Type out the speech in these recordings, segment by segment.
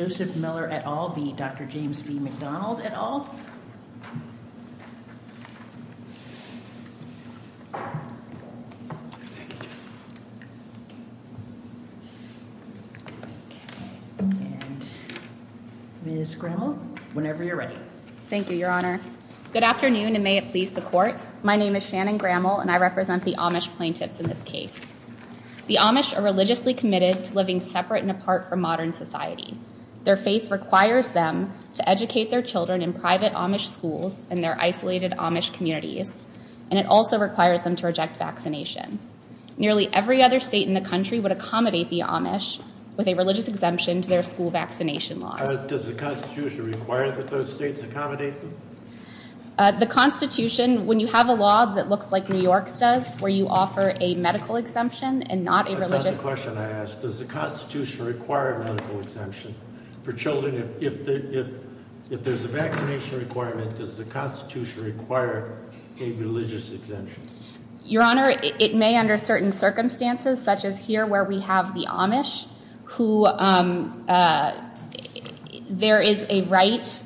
at all, be Dr. James B. McDonald at all. Ms. Grammel, whenever you're ready. Thank you, Your Honor. Good afternoon, and may it please the court. My name is Shannon Grammel, and I represent the Amish plaintiffs in this case. The Amish are religiously committed to living separate and apart from modern society. Their faith requires them to educate their children in private Amish schools in their isolated Amish communities, and it also requires them to reject vaccination. Nearly every other state in the country would accommodate the Amish with a religious exemption to their school vaccination laws. Does the Constitution require that those states accommodate them? The Constitution, when you have a law that looks like New York's does, where you offer a medical exemption and not a religious... That's not the question I asked. Does the Constitution require a medical exemption for children? If there's a vaccination requirement, does the Constitution require a religious exemption? Your Honor, it may under certain circumstances, such as here where we have the Amish, who there is a right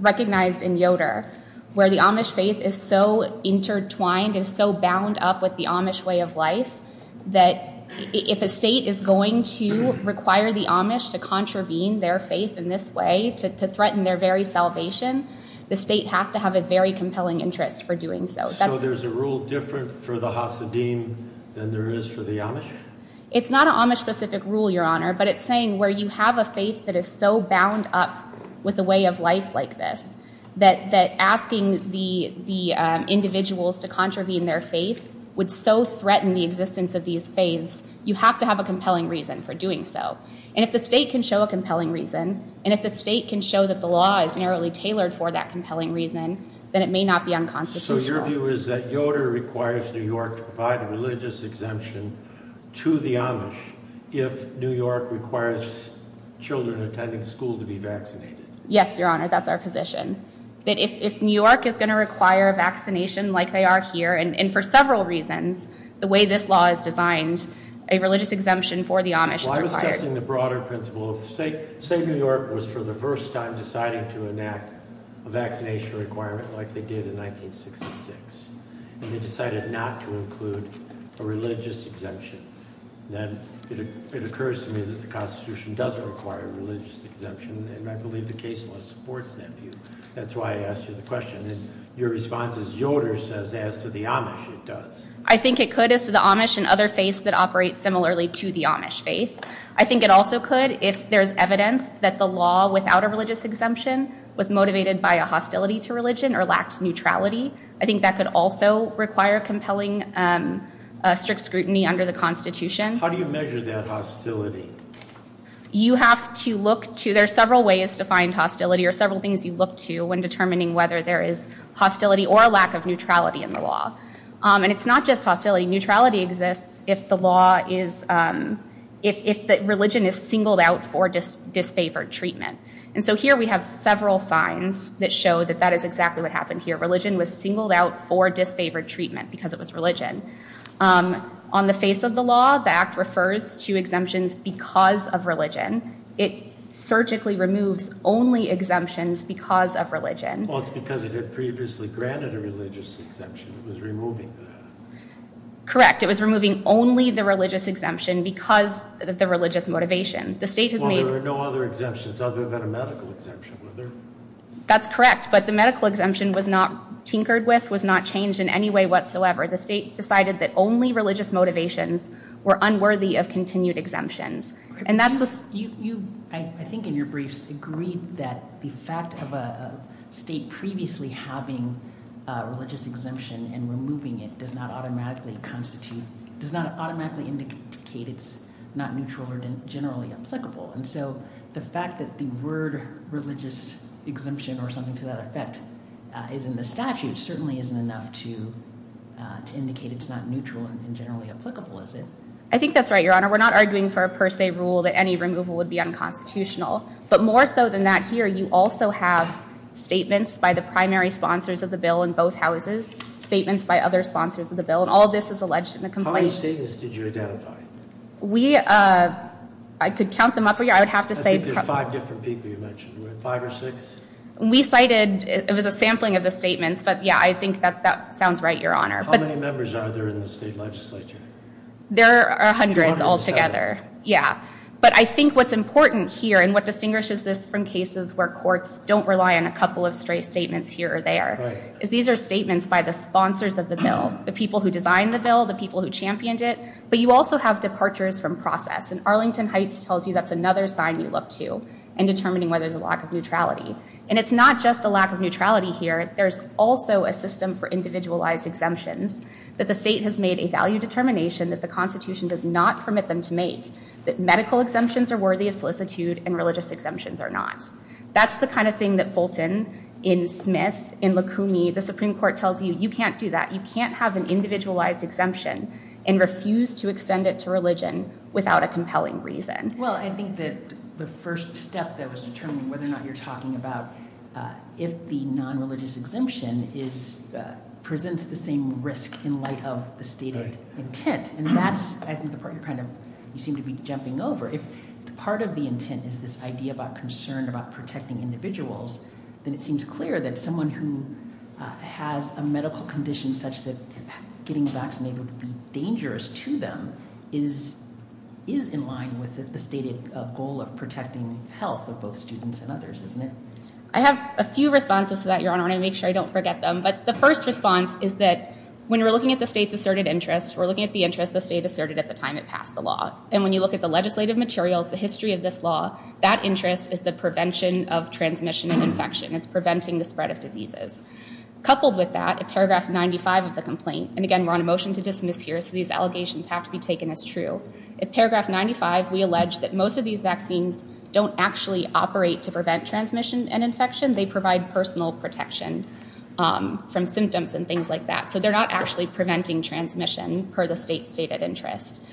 recognized in Yoder, where the Amish faith is so intertwined and so bound up with the Amish way of life, that if a state is going to require the Amish to contravene their faith in this way, to threaten their very salvation, the state has to have a very compelling interest for doing so. So there's a rule different for the Hasidim than there is for the Amish? It's not an Amish specific rule, Your Honor, but it's saying where you have a faith that is so bound up with the way of life like this, that asking the individuals to contravene their faith would so threaten the existence of these faiths, you have to have a compelling reason for doing so. And if the state can show a compelling reason, and if the state can show that the law is narrowly tailored for that compelling reason, then it may not be unconstitutional. So your view is that Yoder requires New York to provide a religious exemption to the Amish if New York requires children attending school to be vaccinated? Yes, Your Honor, that's our position. That if New York is going to require a vaccination like they are here, and for several reasons, the way this law is designed, a religious exemption for the Amish is required. I'm just testing the broader principle. Say New York was for the first time deciding to enact a vaccination requirement like they did in 1966. And they decided not to include a religious exemption. Then it occurs to me that the Constitution doesn't require a religious exemption. And I believe the case law supports that view. That's why I asked you the question. And your response is Yoder says as to the Amish it does. I think it could as to the Amish and other faiths that operate similarly to the Amish faith. I think it also could if there's evidence that the law without a religious exemption was motivated by a hostility to religion or lacked neutrality. I think that could also require compelling strict scrutiny under the Constitution. How do you measure that hostility? You have to look to, there are several ways to find hostility or several things you look to when determining whether there is hostility or lack of neutrality in the law. And it's not just hostility. Neutrality exists if the law is, if religion is singled out for disfavored treatment. And so here we have several signs that show that that is exactly what happened here. Religion was singled out for disfavored treatment because it was religion. On the face of the law, the Act refers to exemptions because of religion. It surgically removes only exemptions because of religion. Well, it's because it had previously granted a religious exemption. It was removing that. Correct, it was removing only the religious exemption because of the religious motivation. Well, there were no other exemptions other than a medical exemption, were there? That's correct, but the medical exemption was not tinkered with, was not changed in any way whatsoever. The state decided that only religious motivations were unworthy of continued exemptions. You, I think in your briefs, agreed that the fact of a state previously having a religious exemption and removing it does not automatically constitute, does not automatically indicate it's not neutral or generally applicable. And so the fact that the word religious exemption or something to that effect is in the statute certainly isn't enough to indicate it's not neutral and generally applicable, is it? I think that's right, Your Honor. We're not arguing for a per se rule that any removal would be unconstitutional. But more so than that, here you also have statements by the primary sponsors of the bill in both houses, statements by other sponsors of the bill, and all this is alleged in the complaint. How many statements did you identify? We, I could count them up here, I would have to say- I think there's five different people you mentioned, five or six? We cited, it was a sampling of the statements, but yeah, I think that that sounds right, Your Honor. How many members are there in the state legislature? There are hundreds altogether, yeah. But I think what's important here and what distinguishes this from cases where courts don't rely on a couple of straight statements here or there is these are statements by the sponsors of the bill, the people who designed the bill, the people who championed it, but you also have departures from process and Arlington Heights tells you that's another sign you look to in determining whether there's a lack of neutrality. And it's not just a lack of neutrality here, there's also a system for individualized exemptions that the state has made a value determination that the Constitution does not permit them to make, that medical exemptions are worthy of solicitude and religious exemptions are not. That's the kind of thing that Fulton, in Smith, in Lukumi, the Supreme Court tells you, you can't do that, you can't have an individualized exemption and refuse to extend it to religion without a compelling reason. Well, I think that the first step that was determined, whether or not you're talking about if the non-religious exemption presents the same risk in light of the stated intent. And that's, I think, the part you seem to be jumping over. If part of the intent is this idea about concern about protecting individuals, then it seems clear that someone who has a medical condition such that getting vaccinated would be dangerous to them is in line with the stated goal of protecting health of both students and others, isn't it? I have a few responses to that, Your Honor, and I want to make sure I don't forget them. But the first response is that when we're looking at the state's asserted interest, we're looking at the interest the state asserted at the time it passed the law. And when you look at the legislative materials, the history of this law, that interest is the prevention of transmission and infection. It's preventing the spread of diseases. Coupled with that, in paragraph 95 of the complaint, and again, we're on a motion to dismiss here, so these allegations have to be taken as true. In paragraph 95, we allege that most of these vaccines don't actually operate to prevent transmission and infection. They provide personal protection from symptoms and things like that. So they're not actually preventing transmission per the state's stated interest.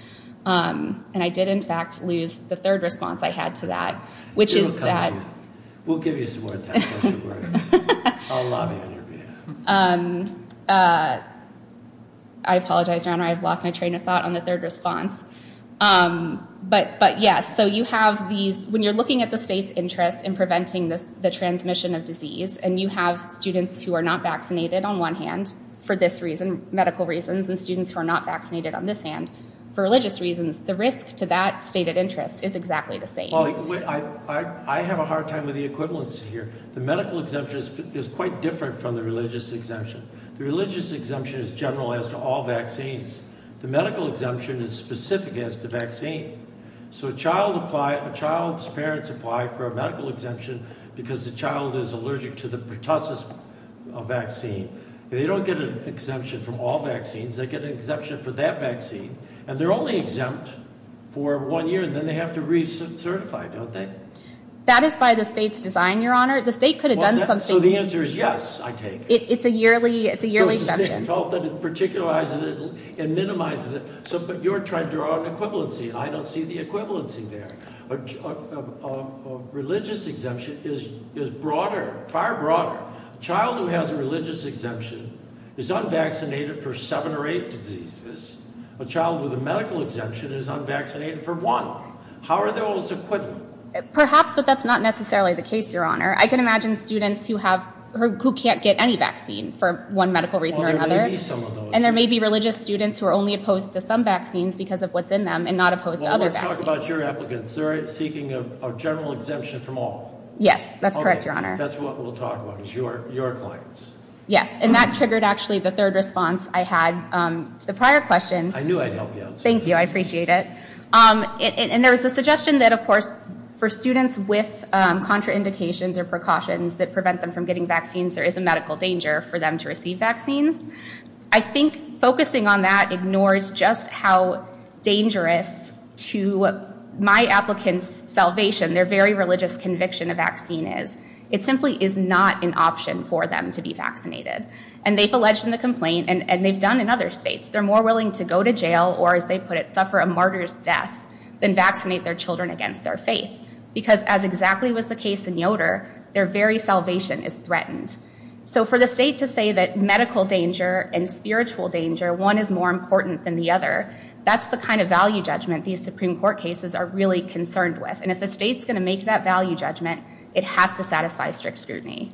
And I did, in fact, lose the third response I had to that, which is that- We'll give you some more time. I'll lobby on your behalf. I apologize, Your Honor. I've lost my train of thought on the third response. But, yes, so you have these- When you're looking at the state's interest in preventing the transmission of disease and you have students who are not vaccinated on one hand for this reason, medical reasons, and students who are not vaccinated on this hand for religious reasons, the risk to that stated interest is exactly the same. I have a hard time with the equivalency here. The medical exemption is quite different from the religious exemption. The religious exemption is general as to all vaccines. The medical exemption is specific as to vaccine. So a child's parents apply for a medical exemption because the child is allergic to the pertussis vaccine. They don't get an exemption from all vaccines. They get an exemption for that vaccine, and they're only exempt for one year, and then they have to recertify, don't they? That is by the state's design, Your Honor. The state could have done something- So the answer is yes, I take it. It's a yearly exemption. So it's the state's fault that it particularizes it and minimizes it. But you're trying to draw an equivalency. I don't see the equivalency there. A religious exemption is broader, far broader. A child who has a religious exemption is unvaccinated for seven or eight diseases. A child with a medical exemption is unvaccinated for one. How are those equivalent? Perhaps, but that's not necessarily the case, Your Honor. I can imagine students who can't get any vaccine for one medical reason or another. Well, there may be some of those. And there may be religious students who are only opposed to some vaccines because of what's in them and not opposed to other vaccines. Well, let's talk about your applicants. They're seeking a general exemption from all. Yes, that's correct, Your Honor. Okay, that's what we'll talk about, is your clients. Yes, and that triggered actually the third response I had to the prior question. I knew I'd help you out. Thank you. I appreciate it. And there was a suggestion that, of course, for students with contraindications or precautions that prevent them from getting vaccines, there is a medical danger for them to receive vaccines. I think focusing on that ignores just how dangerous to my applicants' salvation, their very religious conviction a vaccine is. It simply is not an option for them to be vaccinated. And they've alleged in the complaint, and they've done in other states, they're more willing to go to jail or, as they put it, suffer a martyr's death than vaccinate their children against their faith. Because as exactly was the case in Yoder, their very salvation is threatened. So for the state to say that medical danger and spiritual danger, one is more important than the other, that's the kind of value judgment these Supreme Court cases are really concerned with. And if the state's going to make that value judgment, it has to satisfy strict scrutiny.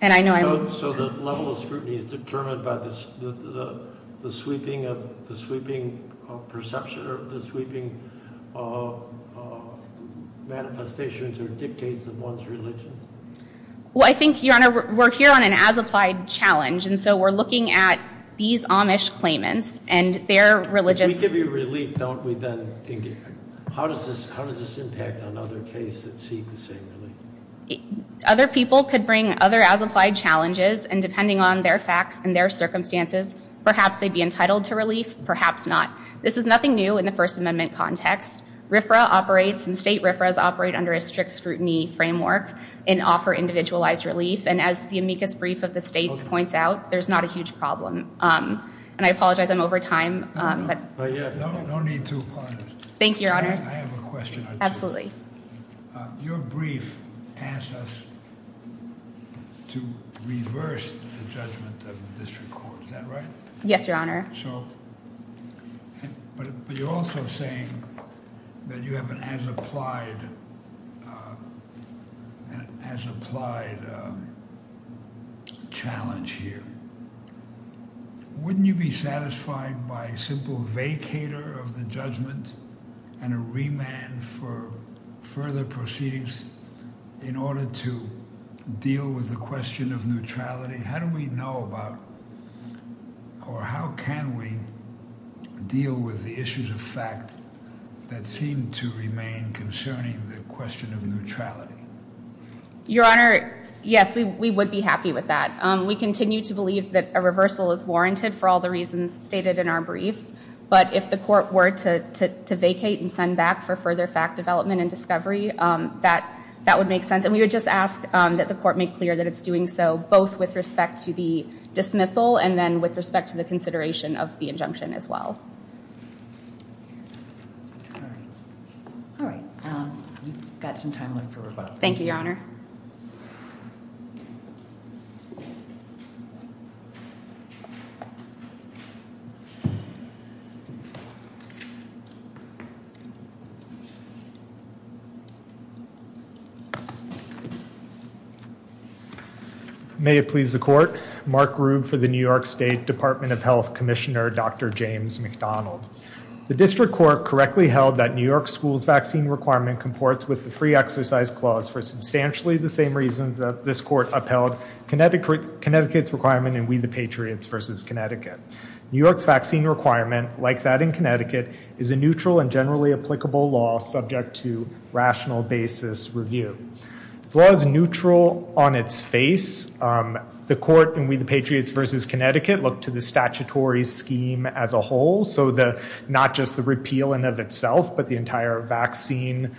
And I know I'm... So the level of scrutiny is determined by the sweeping perception or the sweeping manifestations or dictates of one's religion? Well, I think, Your Honor, we're here on an as-applied challenge, and so we're looking at these Amish claimants and their religious... We give you relief, don't we, then? How does this impact on other faiths that seek the same relief? Other people could bring other as-applied challenges, and depending on their facts and their circumstances, perhaps they'd be entitled to relief, perhaps not. This is nothing new in the First Amendment context. RFRA operates and state RFRAs operate under a strict scrutiny framework and offer individualized relief. And as the amicus brief of the states points out, there's not a huge problem. And I apologize, I'm over time. No need to, Your Honor. Thank you, Your Honor. I have a question. Absolutely. Your brief asks us to reverse the judgment of the district court. Is that right? Yes, Your Honor. But you're also saying that you have an as-applied challenge here. Wouldn't you be satisfied by a simple vacator of the judgment and a remand for further proceedings in order to deal with the question of neutrality? How do we know about or how can we deal with the issues of fact that seem to remain concerning the question of neutrality? Your Honor, yes, we would be happy with that. We continue to believe that a reversal is warranted for all the reasons stated in our briefs. But if the court were to vacate and send back for further fact development and discovery, that would make sense. And we would just ask that the court make clear that it's doing so both with respect to the dismissal and then with respect to the consideration of the injunction as well. All right. We've got some time left for rebuttal. Thank you, Your Honor. May it please the court. Mark Rube for the New York State Department of Health Commissioner, Dr. James McDonald. The district court correctly held that New York school's vaccine requirement comports with the free exercise clause for substantially the same reasons that this court upheld Connecticut's requirement in We the Patriots v. Connecticut. New York's vaccine requirement, like that in Connecticut, is a neutral and generally applicable law subject to rational basis review. The law is neutral on its face. The court in We the Patriots v. Connecticut looked to the statutory scheme as a whole. So not just the repeal in and of itself, but the entire vaccine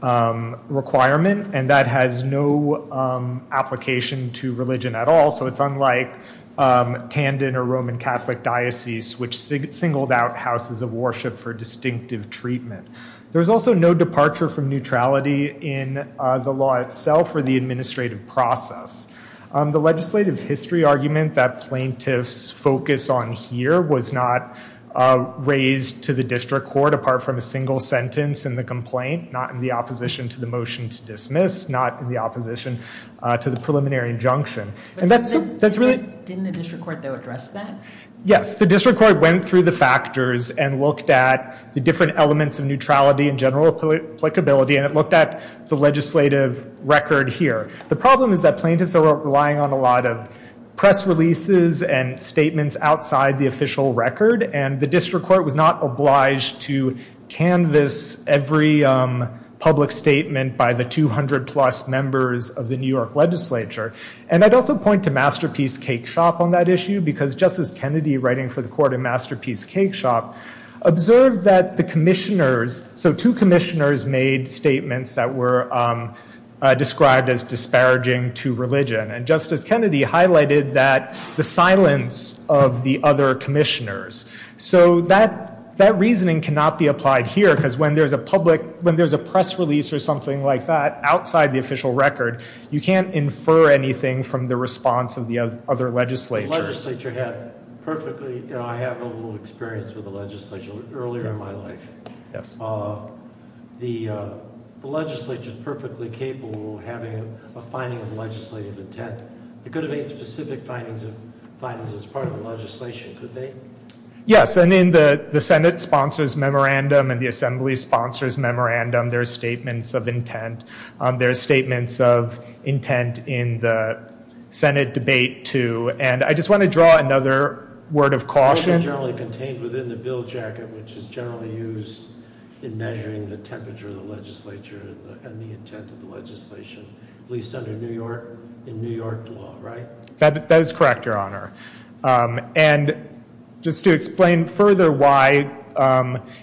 requirement. And that has no application to religion at all. So it's unlike Tandon or Roman Catholic Diocese, which singled out houses of worship for distinctive treatment. There is also no departure from neutrality in the law itself or the administrative process. The legislative history argument that plaintiffs focus on here was not raised to the district court, apart from a single sentence in the complaint, not in the opposition to the motion to dismiss, not in the opposition to the preliminary injunction. Didn't the district court, though, address that? Yes. The district court went through the factors and looked at the different elements of neutrality and general applicability, and it looked at the legislative record here. The problem is that plaintiffs are relying on a lot of press releases and statements outside the official record, and the district court was not obliged to canvass every public statement by the 200-plus members of the New York legislature. And I'd also point to Masterpiece Cake Shop on that issue, because Justice Kennedy, writing for the court in Masterpiece Cake Shop, observed that the commissioners, so two commissioners made statements that were described as disparaging to religion, and Justice Kennedy highlighted the silence of the other commissioners. So that reasoning cannot be applied here, because when there's a press release or something like that outside the official record, you can't infer anything from the response of the other legislatures. I have a little experience with the legislature earlier in my life. The legislature is perfectly capable of having a finding of legislative intent. They could have made specific findings as part of the legislation, could they? Yes, and in the Senate sponsors' memorandum and the Assembly sponsors' memorandum, there are statements of intent. There are statements of intent in the Senate debate, too. And I just want to draw another word of caution. They're generally contained within the bill jacket, which is generally used in measuring the temperature of the legislature and the intent of the legislation, at least under New York, in New York law, right? That is correct, Your Honor. And just to explain further why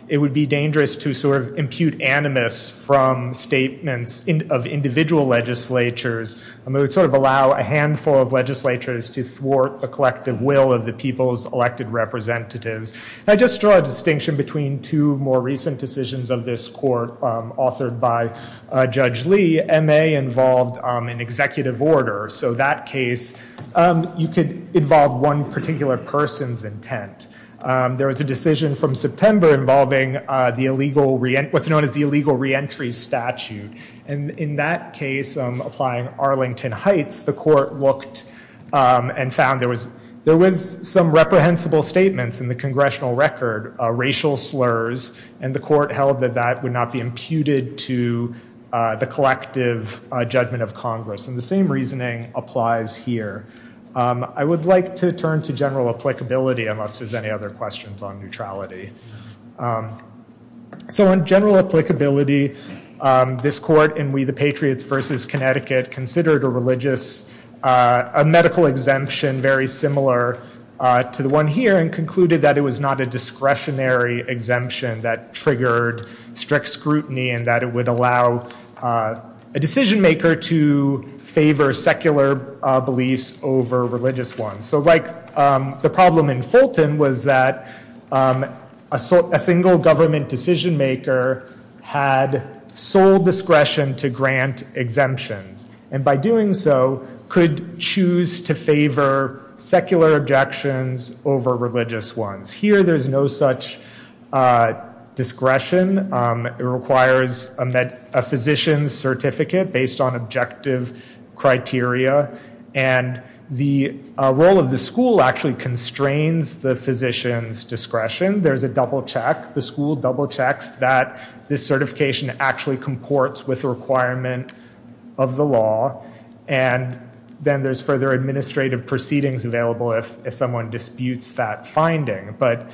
it would be dangerous to sort of impute animus from statements of individual legislatures, it would sort of allow a handful of legislatures to thwart the collective will of the people's elected representatives. And I just draw a distinction between two more recent decisions of this court authored by Judge Lee. M.A. involved an executive order. So that case, you could involve one particular person's intent. There was a decision from September involving what's known as the illegal reentry statute. And in that case, applying Arlington Heights, the court looked and found there was some reprehensible statements in the congressional record, racial slurs, and the court held that that would not be imputed to the collective judgment of Congress. And the same reasoning applies here. I would like to turn to general applicability, unless there's any other questions on neutrality. So on general applicability, this court in We the Patriots v. Connecticut considered a religious, a medical exemption very similar to the one here and concluded that it was not a discretionary exemption that triggered strict scrutiny and that it would allow a decision maker to favor secular beliefs over religious ones. So like the problem in Fulton was that a single government decision maker had sole discretion to grant exemptions and by doing so could choose to favor secular objections over religious ones. Here, there's no such discretion. It requires a physician's certificate based on objective criteria. And the role of the school actually constrains the physician's discretion. There's a double check. The school double checks that this certification actually comports with the requirement of the law. And then there's further administrative proceedings available if someone disputes that finding. But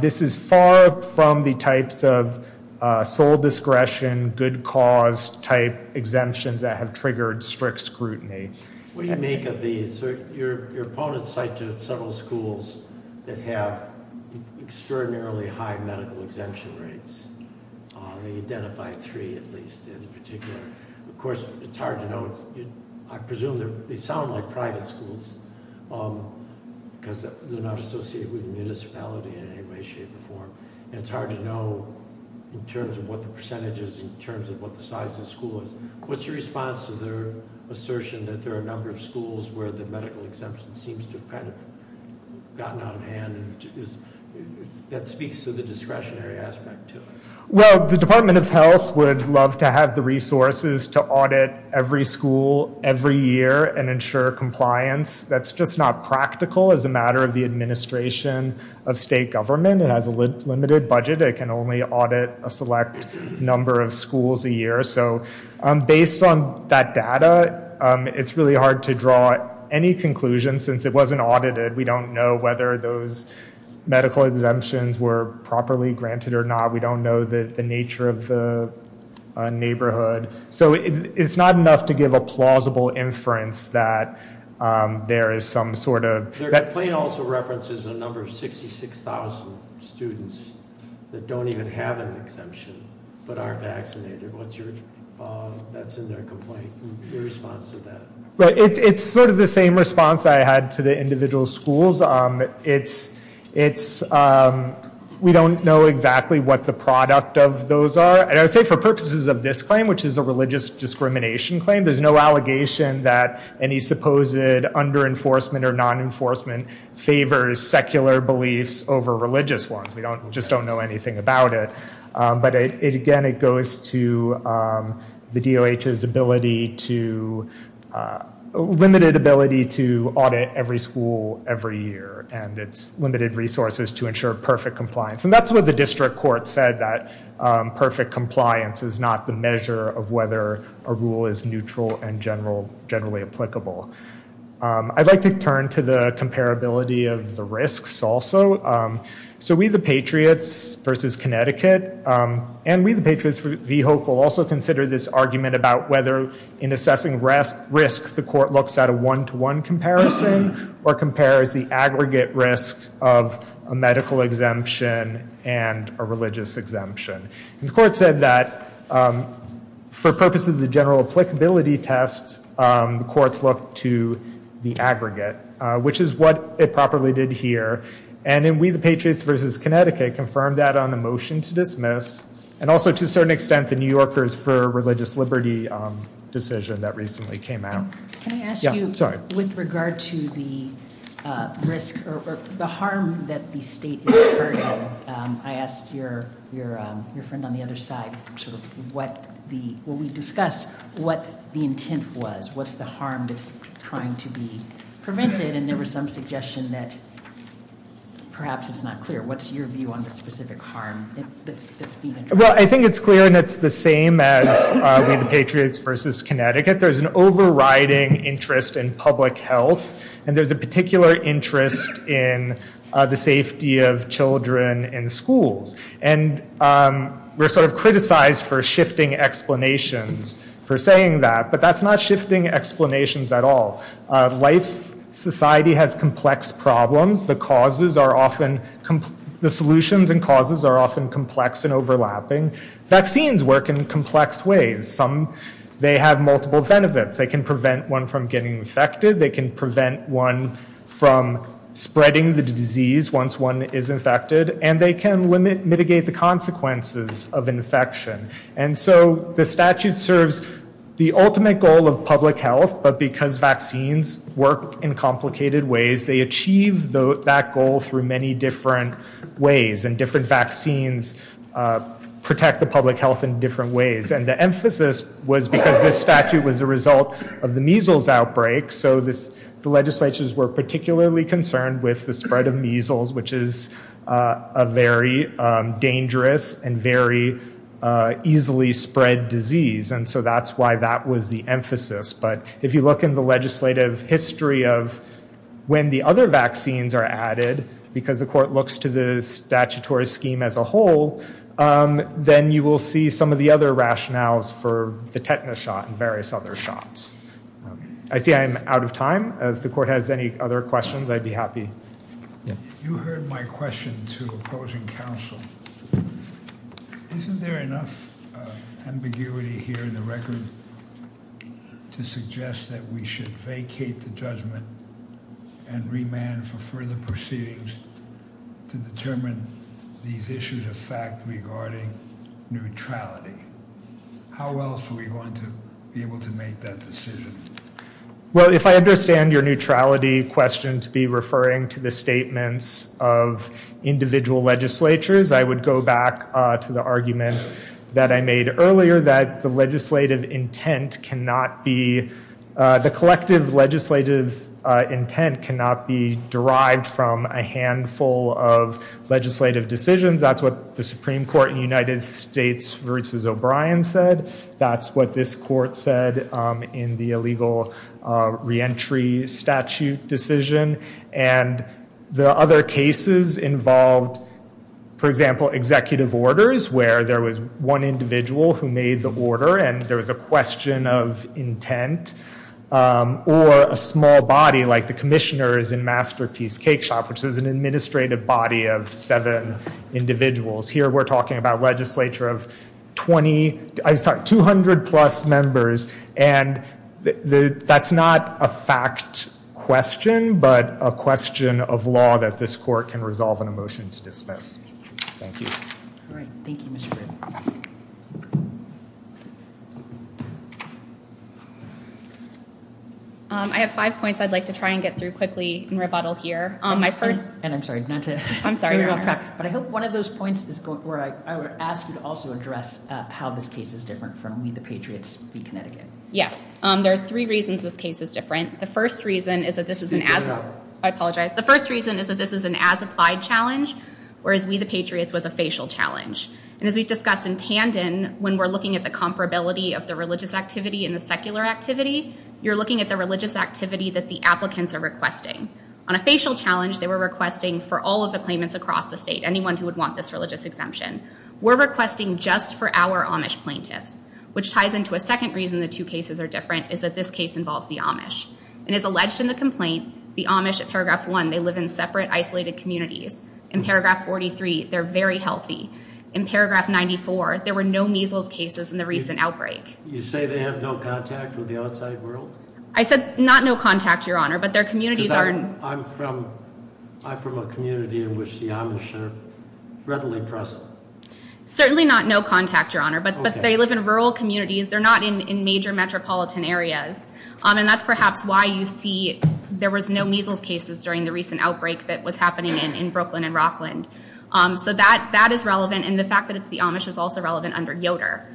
this is far from the types of sole discretion, good cause type exemptions that have triggered strict scrutiny. What do you make of these? Your opponents cite several schools that have extraordinarily high medical exemption rates. They identify three at least in particular. Of course, it's hard to know. I presume they sound like private schools because they're not associated with the municipality in any way, shape, or form. And it's hard to know in terms of what the percentage is, in terms of what the size of the school is. What's your response to their assertion that there are a number of schools where the medical exemption seems to have kind of gotten out of hand? That speaks to the discretionary aspect, too. Well, the Department of Health would love to have the resources to audit every school every year and ensure compliance. That's just not practical as a matter of the administration of state government. It has a limited budget. It can only audit a select number of schools a year. So based on that data, it's really hard to draw any conclusions since it wasn't audited. We don't know whether those medical exemptions were properly granted or not. We don't know the nature of the neighborhood. So it's not enough to give a plausible inference that there is some sort of- Their complaint also references a number of 66,000 students that don't even have an exemption but are vaccinated. What's your, that's in their complaint, your response to that? It's sort of the same response I had to the individual schools. It's, we don't know exactly what the product of those are. And I would say for purposes of this claim, which is a religious discrimination claim, there's no allegation that any supposed under-enforcement or non-enforcement favors secular beliefs over religious ones. We just don't know anything about it. But again, it goes to the DOH's ability to, limited ability to audit every school every year. And it's limited resources to ensure perfect compliance. And that's what the district court said, that perfect compliance is not the measure of whether a rule is neutral and generally applicable. I'd like to turn to the comparability of the risks also. So We the Patriots versus Connecticut. And We the Patriots v. Hope will also consider this argument about whether in assessing risk, the court looks at a one-to-one comparison or compares the aggregate risk of a medical exemption and a religious exemption. And the court said that for purposes of the general applicability test, courts look to the aggregate, which is what it properly did here. And in We the Patriots versus Connecticut confirmed that on a motion to dismiss, and also to a certain extent the New Yorkers for Religious Liberty decision that recently came out. Can I ask you with regard to the risk or the harm that the state is incurring? I asked your friend on the other side sort of what the, well, we discussed what the intent was. What's the harm that's trying to be prevented? And there was some suggestion that perhaps it's not clear. What's your view on the specific harm that's being addressed? Well, I think it's clear, and it's the same as We the Patriots versus Connecticut. There's an overriding interest in public health, and there's a particular interest in the safety of children in schools. And we're sort of criticized for shifting explanations for saying that, but that's not shifting explanations at all. Life, society has complex problems. The causes are often, the solutions and causes are often complex and overlapping. Vaccines work in complex ways. Some, they have multiple benefits. They can prevent one from getting infected. They can prevent one from spreading the disease once one is infected. And they can mitigate the consequences of infection. And so the statute serves the ultimate goal of public health, but because vaccines work in complicated ways, they achieve that goal through many different ways, and different vaccines protect the public health in different ways. And the emphasis was because this statute was the result of the measles outbreak, so the legislatures were particularly concerned with the spread of measles, which is a very dangerous and very easily spread disease. And so that's why that was the emphasis. But if you look in the legislative history of when the other vaccines are added, because the court looks to the statutory scheme as a whole, then you will see some of the other rationales for the tetanus shot and various other shots. I think I'm out of time. If the court has any other questions, I'd be happy. You heard my question to opposing counsel. Isn't there enough ambiguity here in the record to suggest that we should vacate the judgment and remand for further proceedings to determine these issues of fact regarding neutrality? How else are we going to be able to make that decision? Well, if I understand your neutrality question to be referring to the statements of individual legislatures, I would go back to the argument that I made earlier that the legislative intent cannot be – the collective legislative intent cannot be derived from a handful of legislative decisions. That's what the Supreme Court in the United States versus O'Brien said. That's what this court said in the illegal reentry statute decision. And the other cases involved, for example, executive orders, where there was one individual who made the order and there was a question of intent, or a small body like the commissioners in Masterpiece Cakeshop, which is an administrative body of seven individuals. Here we're talking about a legislature of 200-plus members, and that's not a fact question, but a question of law that this court can resolve in a motion to dismiss. Thank you. All right. Thank you, Mr. Britton. I have five points I'd like to try and get through quickly and rebuttal here. My first – And I'm sorry, not to – I'm sorry, Your Honor. But I hope one of those points is where I would ask you to also address how this case is different from We the Patriots v. Connecticut. Yes. There are three reasons this case is different. The first reason is that this is an – I apologize. The first reason is that this is an as-applied challenge, whereas We the Patriots was a facial challenge. And as we've discussed in tandem, when we're looking at the comparability of the religious activity and the secular activity, you're looking at the religious activity that the applicants are requesting. On a facial challenge, they were requesting for all of the claimants across the state, anyone who would want this religious exemption. We're requesting just for our Amish plaintiffs, which ties into a second reason the two cases are different, is that this case involves the Amish. And as alleged in the complaint, the Amish at Paragraph 1, they live in separate, isolated communities. In Paragraph 43, they're very healthy. In Paragraph 94, there were no measles cases in the recent outbreak. You say they have no contact with the outside world? I said not no contact, Your Honor, because I'm from a community in which the Amish are readily present. Certainly not no contact, Your Honor, but they live in rural communities. They're not in major metropolitan areas. And that's perhaps why you see there was no measles cases during the recent outbreak that was happening in Brooklyn and Rockland. So that is relevant. And the fact that it's the Amish is also relevant under Yoder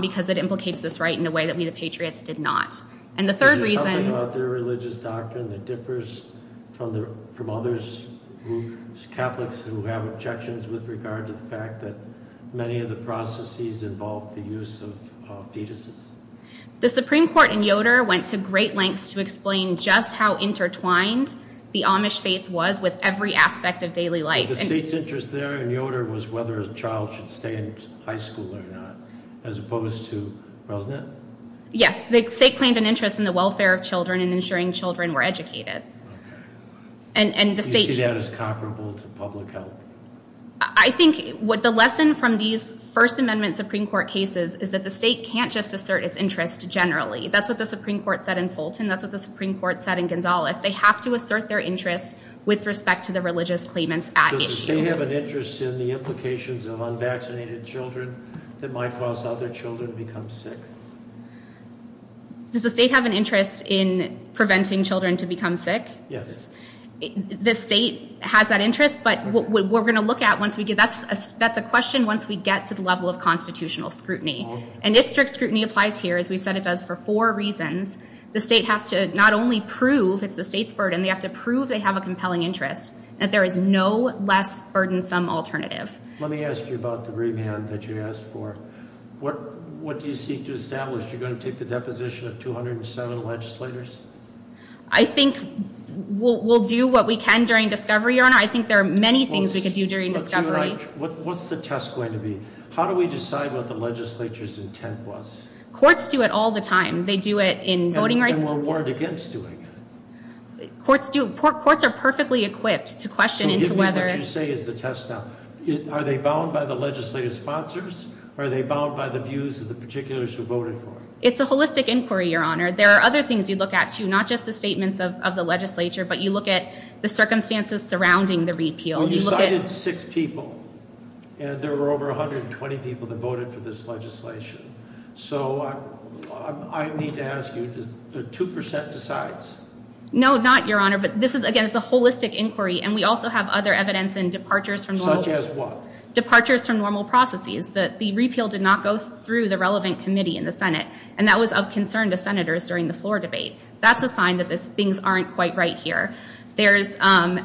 because it implicates this right in a way that We the Patriots did not. And the third reason... Is there something about their religious doctrine that differs from others, Catholics who have objections with regard to the fact that many of the processes involve the use of fetuses? The Supreme Court in Yoder went to great lengths to explain just how intertwined the Amish faith was with every aspect of daily life. The state's interest there in Yoder was whether a child should stay in high school or not, as opposed to, wasn't it? Yes. The state claimed an interest in the welfare of children and ensuring children were educated. Okay. You see that as comparable to public health? I think the lesson from these First Amendment Supreme Court cases is that the state can't just assert its interest generally. That's what the Supreme Court said in Fulton. That's what the Supreme Court said in Gonzales. They have to assert their interest with respect to the religious claimants at issue. Does the state have an interest in the implications of unvaccinated children that might cause other children to become sick? Does the state have an interest in preventing children to become sick? Yes. The state has that interest, but what we're going to look at once we get, that's a question once we get to the level of constitutional scrutiny. And if strict scrutiny applies here, as we've said it does for four reasons, the state has to not only prove it's the state's burden, they have to prove they have a compelling interest and that there is no less burdensome alternative. Let me ask you about the remand that you asked for. What do you seek to establish? Are you going to take the deposition of 207 legislators? I think we'll do what we can during discovery, Your Honor. I think there are many things we could do during discovery. What's the test going to be? How do we decide what the legislature's intent was? Courts do it all the time. They do it in voting rights. And we're warned against doing it. Courts are perfectly equipped to question into whether... What do you say is the test now? Are they bound by the legislative sponsors? Are they bound by the views of the particulars who voted for it? It's a holistic inquiry, Your Honor. There are other things you look at too, not just the statements of the legislature, but you look at the circumstances surrounding the repeal. You cited six people, and there were over 120 people that voted for this legislation. So I need to ask you, does the 2% decide? No, not, Your Honor. But this is, again, it's a holistic inquiry, and we also have other evidence in departures from normal... Such as what? Departures from normal processes. The repeal did not go through the relevant committee in the Senate, and that was of concern to senators during the floor debate. That's a sign that things aren't quite right here. There's other...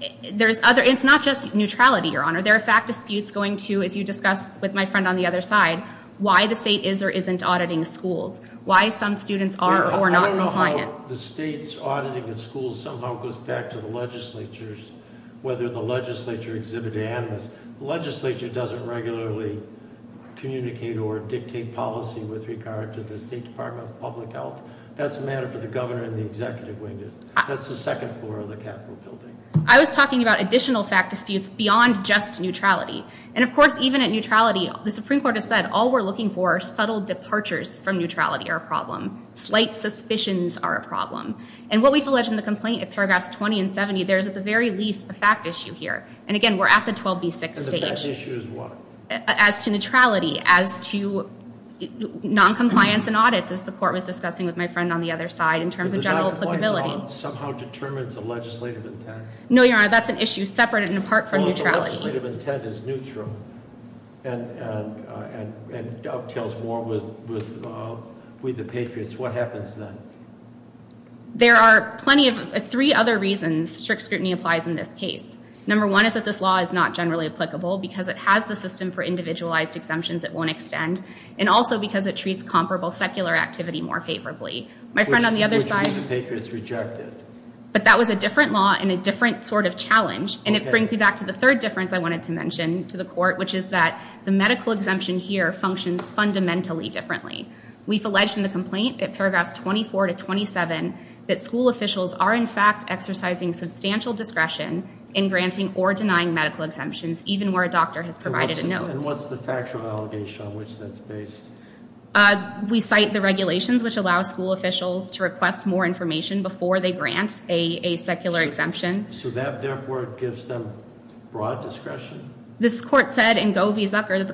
It's not just neutrality, Your Honor. There are fact disputes going to, as you discussed with my friend on the other side, why the state is or isn't auditing schools, why some students are or are not compliant. I don't know how the state's auditing of schools somehow goes back to the legislatures, whether the legislature exhibited animus. The legislature doesn't regularly communicate or dictate policy with regard to the State Department of Public Health. That's a matter for the governor and the executive wing to... That's the second floor of the Capitol building. I was talking about additional fact disputes beyond just neutrality. And, of course, even at neutrality, the Supreme Court has said all we're looking for are subtle departures from neutrality are a problem. Slight suspicions are a problem. And what we've alleged in the complaint, in paragraphs 20 and 70, there is at the very least a fact issue here. And, again, we're at the 12B6 stage. And the fact issue is what? As to neutrality, as to noncompliance in audits, as the court was discussing with my friend on the other side, in terms of general applicability. But the noncompliance of audits somehow determines the legislative intent? No, Your Honor, that's an issue separate and apart from neutrality. Well, if the legislative intent is neutral and dovetails more with the Patriots, what happens then? There are three other reasons strict scrutiny applies in this case. Number one is that this law is not generally applicable because it has the system for individualized exemptions it won't extend, and also because it treats comparable secular activity more favorably. My friend on the other side... Which means the Patriots reject it. But that was a different law and a different sort of challenge. And it brings me back to the third difference I wanted to mention to the court, which is that the medical exemption here functions fundamentally differently. We've alleged in the complaint, in paragraphs 24 to 27, that school officials are in fact exercising substantial discretion in granting or denying medical exemptions, even where a doctor has provided a note. And what's the factual allegation on which that's based? We cite the regulations which allow school officials to request more information before they grant a secular exemption. So that, therefore, gives them broad discretion? This court said in Go V. Zucker that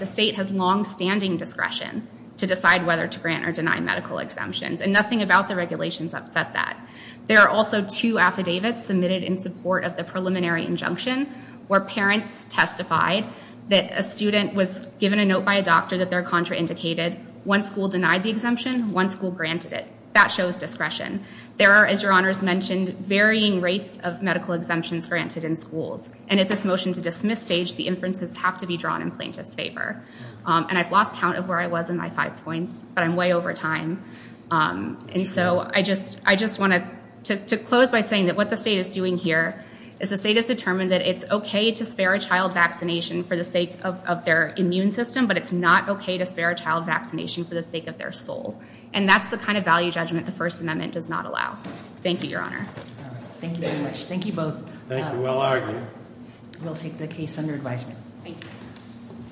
the state has longstanding discretion to decide whether to grant or deny medical exemptions, and nothing about the regulations upset that. There are also two affidavits submitted in support of the preliminary injunction where parents testified that a student was given a note by a doctor that their contra indicated. One school denied the exemption, one school granted it. That shows discretion. There are, as your honors mentioned, varying rates of medical exemptions granted in schools. And at this motion to dismiss stage, the inferences have to be drawn in plaintiff's favor. And I've lost count of where I was in my five points, but I'm way over time. And so I just want to close by saying that what the state is doing here is the state has determined that it's okay to spare a child vaccination for the sake of their immune system, but it's not okay to spare a child vaccination for the sake of their soul. And that's the kind of value judgment the First Amendment does not allow. Thank you, your honor. Thank you very much. Thank you both. Thank you. Well argued. We'll take the case under advisement. Thank you.